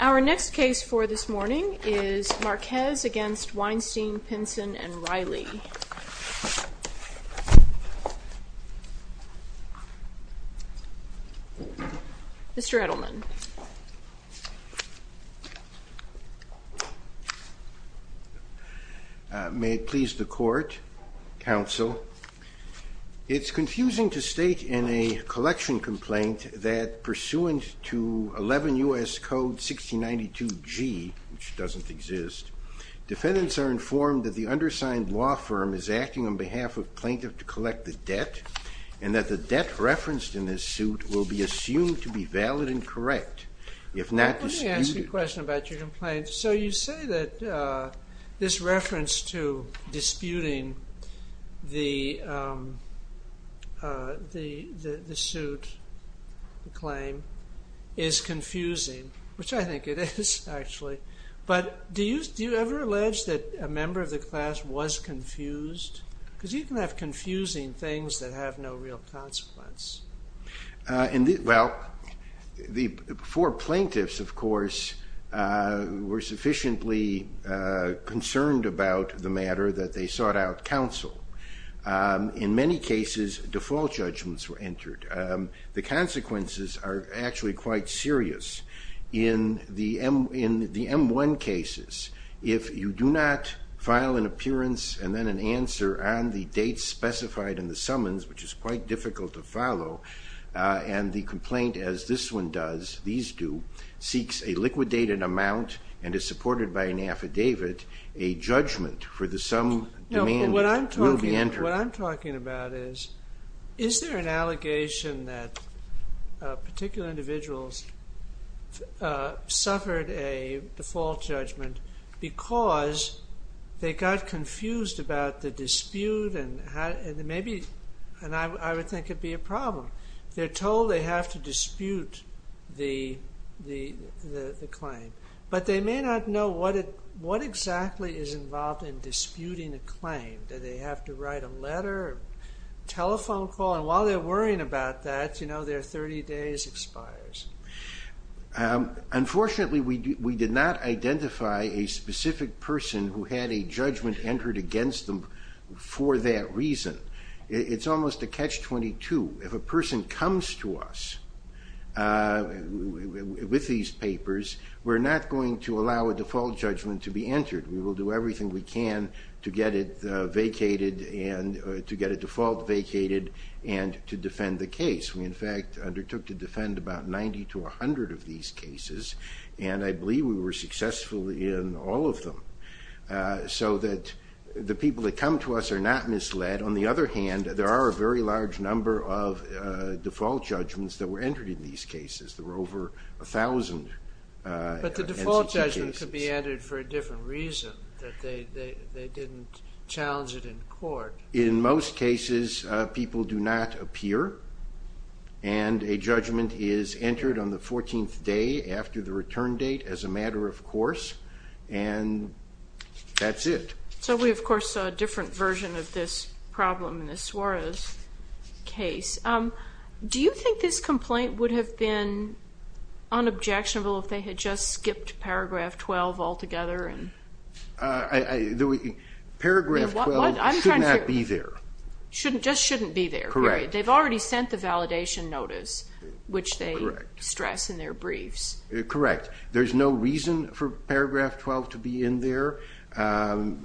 Our next case for this morning is Marquez v. Weinstein, Pinson & Riley. Mr. Edelman. May it please the court, counsel. It's confusing to state in a collection complaint that pursuant to 11 U.S. Code 1692G, which doesn't exist, defendants are informed that the undersigned law firm is acting on behalf of a plaintiff to collect the debt, and that the debt referenced in this suit will be assumed to be valid and correct, if not disputed. Let me ask you a question about your complaint. So you say that this reference to disputing the suit, the claim, is confusing, which I think it is actually. But do you ever allege that a member of the class was confused? Because you can have confusing things that have no real consequence. Well, the four plaintiffs, of course, were sufficiently concerned about the matter that they sought out counsel. In many cases, default judgments were entered. The consequences are actually quite serious. In the M-1 cases, if you do not file an appearance and then an answer on the dates specified in the summons, which is quite difficult to follow, and the complaint, as this one does, these do, seeks a liquidated amount and is supported by an affidavit, a judgment for the sum demanded will be entered. What I'm talking about is, is there an allegation that particular individuals suffered a default judgment because they got confused about the dispute? And I would think it would be a problem. Unfortunately, we did not identify a specific person who had a judgment entered against them for that reason. It's almost a catch-22. If a person comes to us with these papers, we're not going to allow a default judgment to be entered. We will do everything we can to get it vacated, to get a default vacated, and to defend the case. We, in fact, undertook to defend about 90 to 100 of these cases, and I believe we were successful in all of them, so that the people that come to us are not misled. On the other hand, there are a very large number of default judgments that were entered in these cases. There were over 1,000 NCT cases. But the default judgment could be entered for a different reason, that they didn't challenge it in court. In most cases, people do not appear, and a judgment is entered on the 14th day after the return date as a matter of course, and that's it. So we, of course, saw a different version of this problem in the Suarez case. Do you think this complaint would have been unobjectionable if they had just skipped paragraph 12 altogether? Paragraph 12 should not be there. Just shouldn't be there, period. They've already sent the validation notice, which they stress in their briefs. Correct. There's no reason for paragraph 12 to be in there.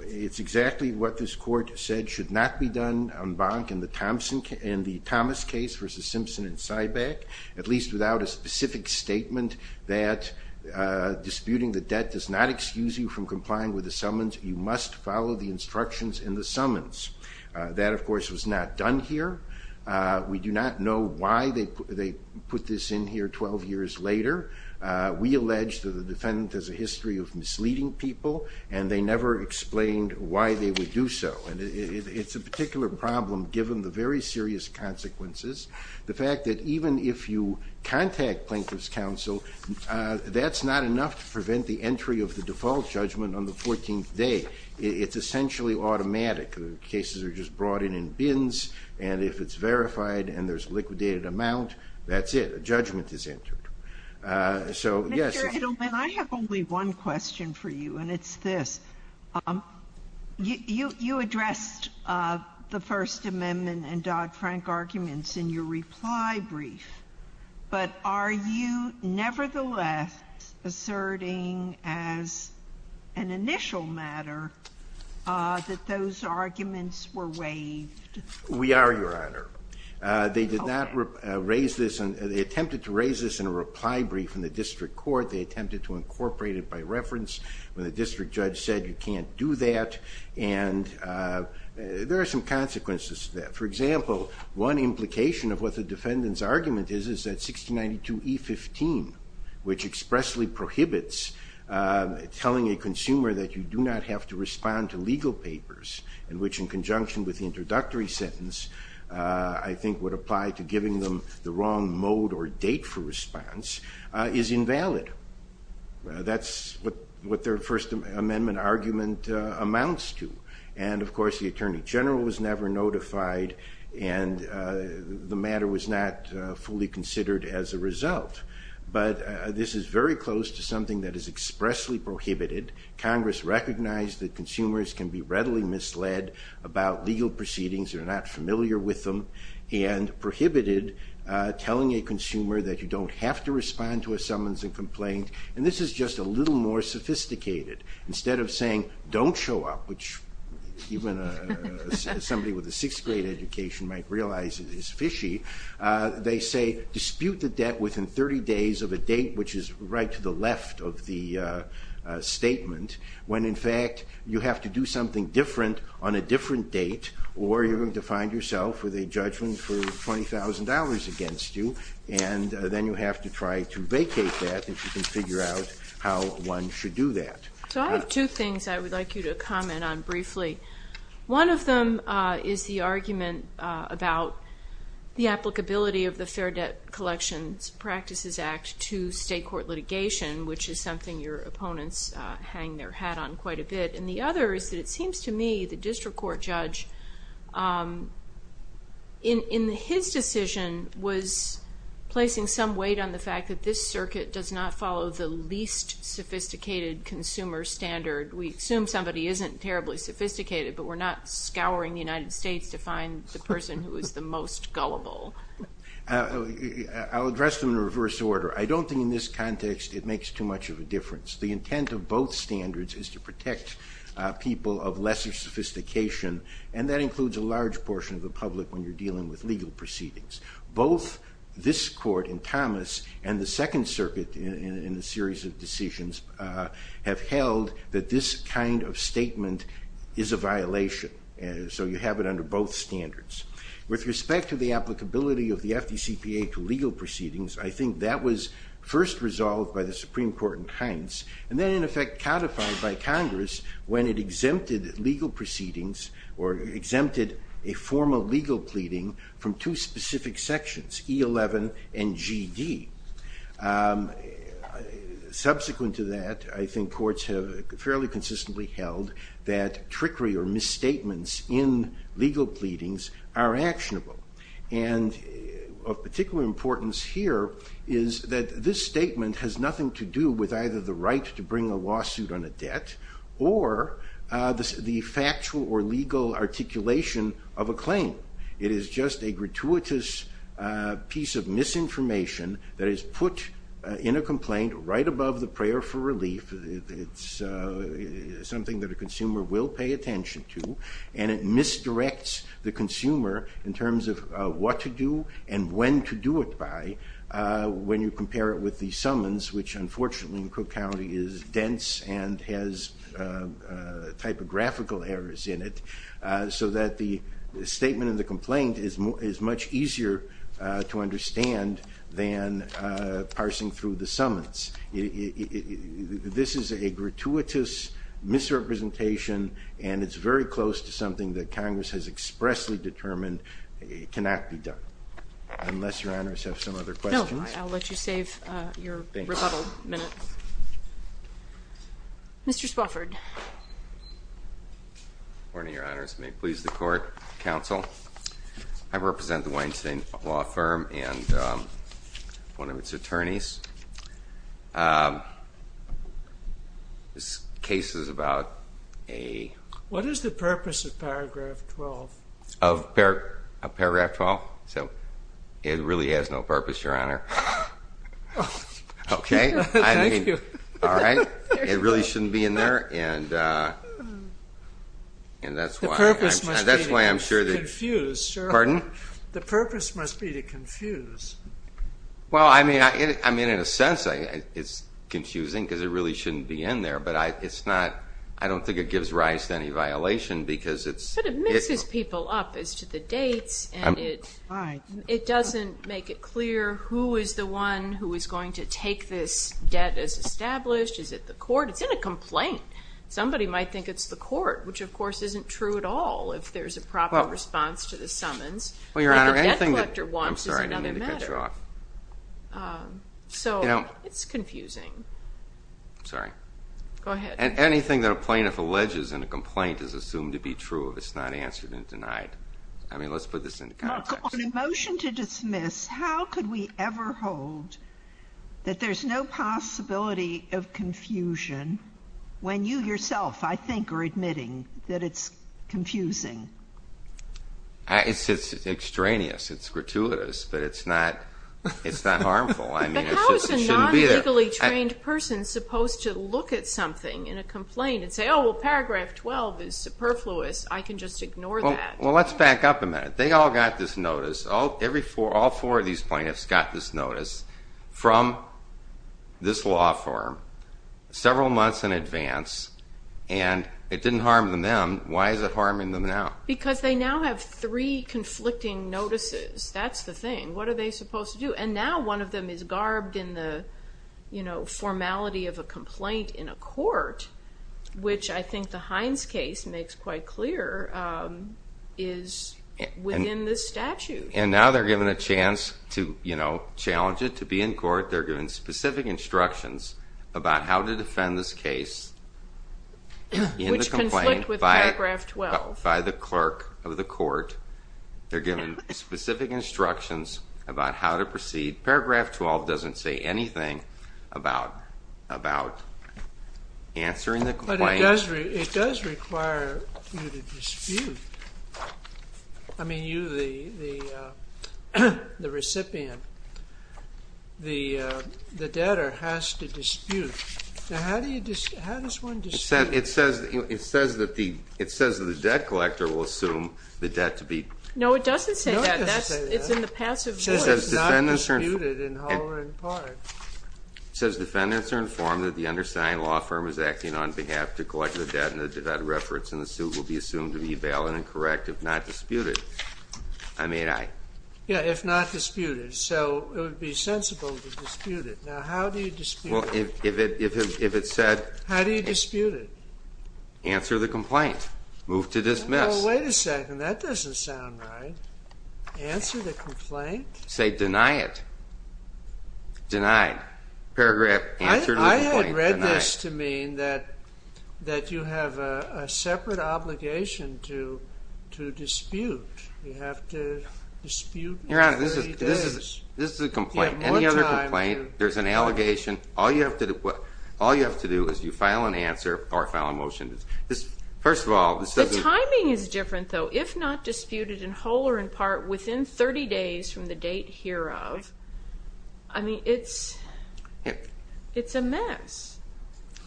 It's exactly what this court said should not be done en banc in the Thomas case versus Simpson and Sybeck, at least without a specific statement that disputing the debt does not excuse you from complying with the summons. You must follow the instructions in the summons. That, of course, was not done here. We do not know why they put this in here 12 years later. We allege that the defendant has a history of misleading people, and they never explained why they would do so. And it's a particular problem given the very serious consequences. The fact that even if you contact plaintiff's counsel, that's not enough to prevent the entry of the default judgment on the 14th day. It's essentially automatic. The cases are just brought in in bins, and if it's verified and there's liquidated amount, that's it. A judgment is entered. Mr. Edelman, I have only one question for you, and it's this. You addressed the First Amendment and Dodd-Frank arguments in your reply brief, but are you nevertheless asserting as an initial matter that those arguments were waived? We are, Your Honor. They attempted to raise this in a reply brief in the district court. They attempted to incorporate it by reference when the district judge said you can't do that, and there are some consequences to that. For example, one implication of what the defendant's argument is is that 1692E15, which expressly prohibits telling a consumer that you do not have to respond to legal papers, in which in conjunction with the introductory sentence, I think would apply to giving them the wrong mode or date for response, is invalid. That's what their First Amendment argument amounts to. And, of course, the Attorney General was never notified, and the matter was not fully considered as a result. But this is very close to something that is expressly prohibited. Congress recognized that consumers can be readily misled about legal proceedings, they're not familiar with them, and prohibited telling a consumer that you don't have to respond to a summons and complaint. And this is just a little more sophisticated. Instead of saying don't show up, which even somebody with a sixth grade education might realize is fishy, they say dispute the debt within 30 days of a date which is right to the left of the statement, when in fact you have to do something different on a different date, or you're going to find yourself with a judgment for $20,000 against you, and then you have to try to vacate that if you can figure out how one should do that. So I have two things I would like you to comment on briefly. One of them is the argument about the applicability of the Fair Debt Collections Practices Act to state court litigation, which is something your opponents hang their hat on quite a bit. And the other is that it seems to me the district court judge, in his decision, was placing some weight on the fact that this circuit does not follow the least sophisticated consumer standard. We assume somebody isn't terribly sophisticated, but we're not scouring the United States to find the person who is the most gullible. I'll address them in reverse order. I don't think in this context it makes too much of a difference. The intent of both standards is to protect people of lesser sophistication, and that includes a large portion of the public when you're dealing with legal proceedings. Both this court in Thomas and the Second Circuit in the series of decisions have held that this kind of statement is a violation, so you have it under both standards. With respect to the applicability of the FDCPA to legal proceedings, I think that was first resolved by the Supreme Court in Hines, and then in effect codified by Congress when it exempted legal proceedings or exempted a formal legal pleading from two specific sections, E11 and GD. Subsequent to that, I think courts have fairly consistently held that trickery or misstatements in legal pleadings are actionable. And of particular importance here is that this statement has nothing to do with either the right to bring a lawsuit on a debt or the factual or legal articulation of a claim. It is just a gratuitous piece of misinformation that is put in a complaint right above the prayer for relief. It's something that a consumer will pay attention to, and it misdirects the consumer in terms of what to do and when to do it by when you compare it with the summons, which unfortunately in Cook County is dense and has typographical errors in it, so that the statement and the complaint is much easier to understand than parsing through the summons. This is a gratuitous misrepresentation, and it's very close to something that Congress has expressly determined cannot be done. Unless Your Honors have some other questions. No, I'll let you save your rebuttal minutes. Mr. Spofford. Good morning, Your Honors. May it please the court, counsel. I represent the Weinstein Law Firm and one of its attorneys. This case is about a... What is the purpose of paragraph 12? Of paragraph 12? It really has no purpose, Your Honor. Thank you. All right. It really shouldn't be in there, and that's why I'm sure... The purpose must be to confuse. Pardon? The purpose must be to confuse. Well, I mean, in a sense, it's confusing because it really shouldn't be in there, but I don't think it gives Rice any violation because it's... But it mixes people up as to the dates, and it doesn't make it clear who is the one who is going to take this debt as established. Is it the court? It's in a complaint. Somebody might think it's the court, which, of course, isn't true at all if there's a proper response to the summons. Well, Your Honor, anything that... I'm sorry. I didn't mean to cut you off. So it's confusing. Sorry. Go ahead. Anything that a plaintiff alleges in a complaint is assumed to be true if it's not answered and denied. I mean, let's put this into context. On a motion to dismiss, how could we ever hold that there's no possibility of confusion when you yourself, I think, are admitting that it's confusing? It's extraneous. It's gratuitous, but it's not harmful. I mean, it shouldn't be there. A legally trained person is supposed to look at something in a complaint and say, oh, well, paragraph 12 is superfluous. I can just ignore that. Well, let's back up a minute. They all got this notice. All four of these plaintiffs got this notice from this law firm several months in advance, and it didn't harm them then. Why is it harming them now? Because they now have three conflicting notices. That's the thing. What are they supposed to do? And now one of them is garbed in the formality of a complaint in a court, which I think the Hines case makes quite clear is within the statute. And now they're given a chance to challenge it, to be in court. They're given specific instructions about how to defend this case in the complaint by the clerk of the court. They're given specific instructions about how to proceed. Paragraph 12 doesn't say anything about answering the complaint. It does require you to dispute. I mean, you, the recipient, the debtor, has to dispute. How does one dispute? It says that the debt collector will assume the debt to be. No, it doesn't say that. It's in the passive voice. It's not disputed in whole or in part. It says defendants are informed that the undersigned law firm is acting on behalf to collect the debt, and the debt reference in the suit will be assumed to be valid and correct if not disputed. Yeah, if not disputed. So it would be sensible to dispute it. Now, how do you dispute it? Well, if it said... How do you dispute it? Answer the complaint. Move to dismiss. No, wait a second. That doesn't sound right. Answer the complaint? Say deny it. Denied. Paragraph answered the complaint. I had read this to mean that you have a separate obligation to dispute. You have to dispute in 30 days. Your Honor, this is a complaint. Any other complaint, there's an allegation. All you have to do is you file an answer or file a motion. The timing is different, though. If not disputed in whole or in part, within 30 days from the date hereof. I mean, it's a mess.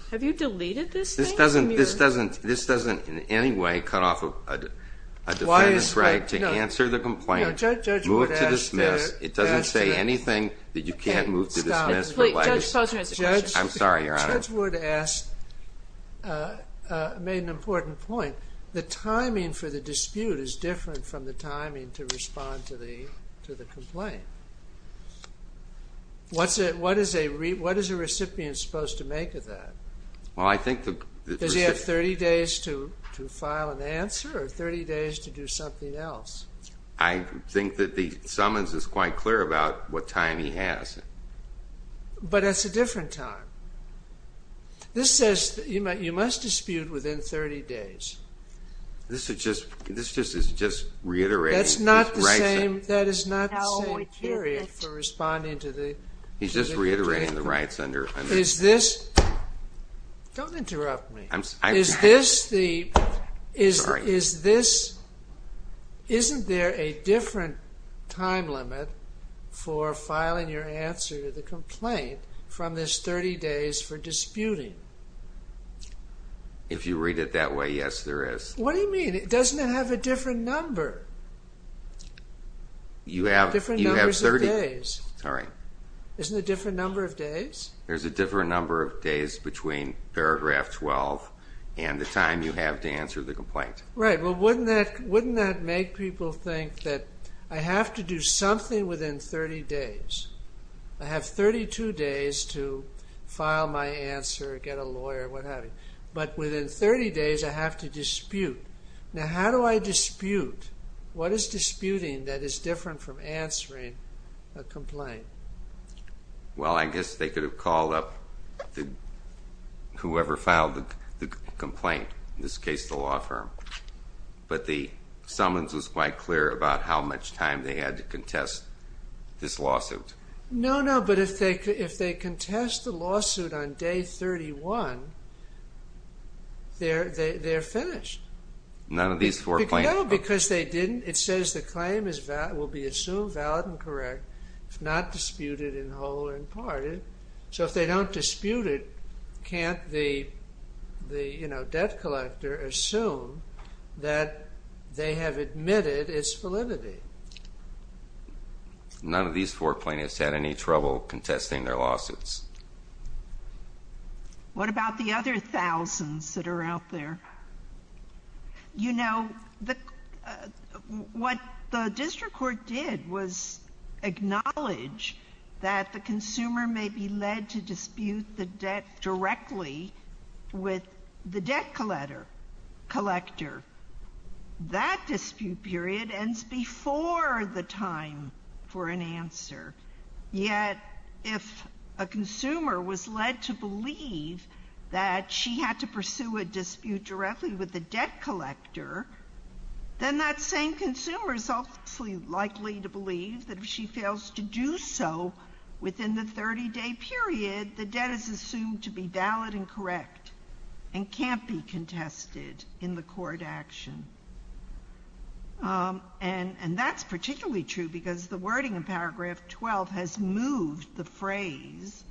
Have you deleted this thing? This doesn't in any way cut off a defendant's right to answer the complaint. Move to dismiss. It doesn't say anything that you can't move to dismiss. Judge Wood made an important point. The timing for the dispute is different from the timing to respond to the complaint. What is a recipient supposed to make of that? Does he have 30 days to file an answer or 30 days to do something else? I think that the summons is quite clear about what time he has. But that's a different time. This says that you must dispute within 30 days. This is just reiterating. That's not the same. That is not the same period for responding to the. He's just reiterating the rights under. Is this. Don't interrupt me. Is this the. Is this. Isn't there a different time limit for filing your answer to the complaint from this 30 days for disputing? If you read it that way, yes, there is. What do you mean? It doesn't have a different number. You have different numbers of days. Isn't it a different number of days? There's a different number of days between paragraph 12 and the time you have to answer the complaint. Wouldn't that make people think that I have to do something within 30 days. I have 32 days to file my answer, get a lawyer, what have you. But within 30 days I have to dispute. Now, how do I dispute? What is disputing that is different from answering a complaint? Well, I guess they could have called up whoever filed the complaint, in this case the law firm. But the summons was quite clear about how much time they had to contest this lawsuit. No, no. But if they contest the lawsuit on day 31, they're finished. None of these four plaintiffs. No, because they didn't. It says the claim will be assumed valid and correct if not disputed in whole or in part. So if they don't dispute it, can't the debt collector assume that they have admitted its validity? None of these four plaintiffs had any trouble contesting their lawsuits. What about the other thousands that are out there? You know, what the district court did was acknowledge that the consumer may be led to dispute the debt directly with the debt collector. That dispute period ends before the time for an answer. Yet if a consumer was led to believe that she had to pursue a dispute directly with the debt collector, then that same consumer is also likely to believe that if she fails to do so within the 30-day period, the debt is assumed to be valid and correct and can't be contested in the court action. And that's particularly true because the wording in paragraph 12 has moved the phrase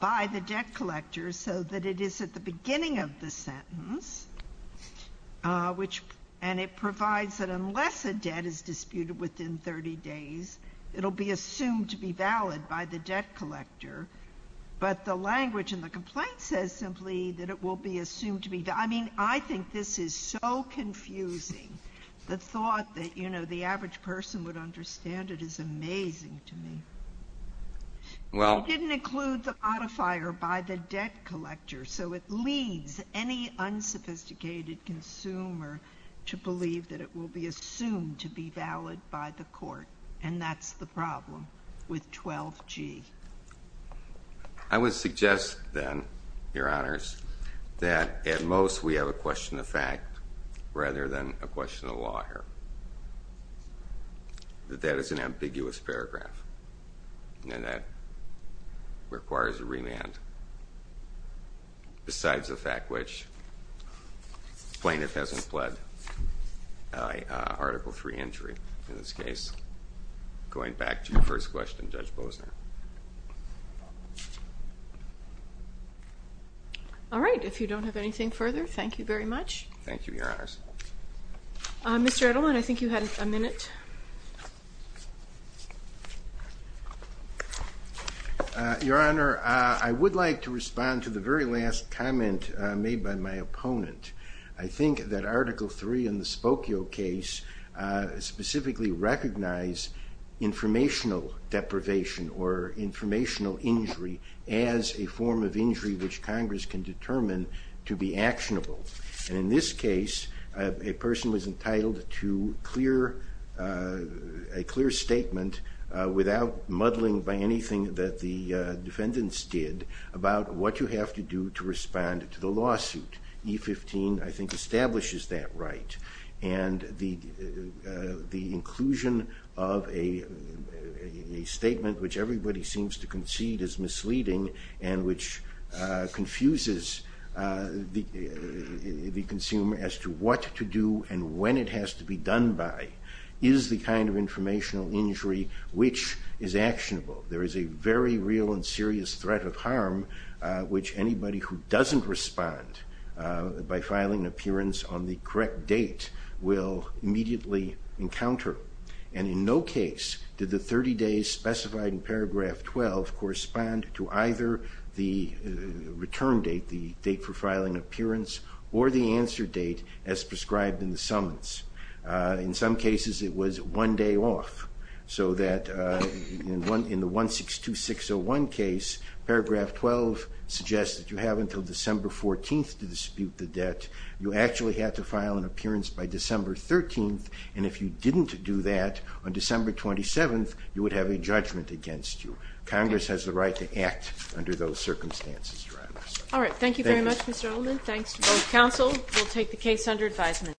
by the debt collector so that it is at the beginning of the sentence, and it provides that unless a debt is disputed within 30 days, it will be assumed to be valid by the debt collector. But the language in the complaint says simply that it will be assumed to be. I mean, I think this is so confusing. The thought that, you know, the average person would understand it is amazing to me. It didn't include the modifier by the debt collector, so it leads any unsophisticated consumer to believe that it will be assumed to be valid by the court, and that's the problem with 12G. I would suggest then, Your Honors, that at most we have a question of fact rather than a question of law here. That is an ambiguous paragraph, and that requires a remand. Besides the fact which plaintiff hasn't pled Article III injury in this case. Going back to your first question, Judge Bosner. All right. If you don't have anything further, thank you very much. Thank you, Your Honors. Mr. Edelman, I think you had a minute. Your Honor, I would like to respond to the very last comment made by my opponent. I think that Article III in the Spokio case specifically recognized informational deprivation or informational injury as a form of injury which Congress can determine to be actionable. In this case, a person was entitled to a clear statement without muddling by anything that the defendants did about what you have to do to respond to the lawsuit. E15, I think, establishes that right, and the inclusion of a statement which everybody seems to concede is misleading and which confuses the consumer as to what to do and when it has to be done by is the kind of informational injury which is actionable. There is a very real and serious threat of harm which anybody who doesn't respond by filing an appearance on the correct date will immediately encounter. And in no case did the 30 days specified in Paragraph 12 correspond to either the return date, the date for filing appearance, or the answer date as prescribed in the summons. In some cases it was one day off, so that in the 162-601 case, Paragraph 12 suggests that you have until December 14th to dispute the debt. You actually have to file an appearance by December 13th, and if you didn't do that on December 27th, you would have a judgment against you. Congress has the right to act under those circumstances. All right, thank you very much, Mr. Ullman. Thanks to both counsel. We'll take the case under advisement.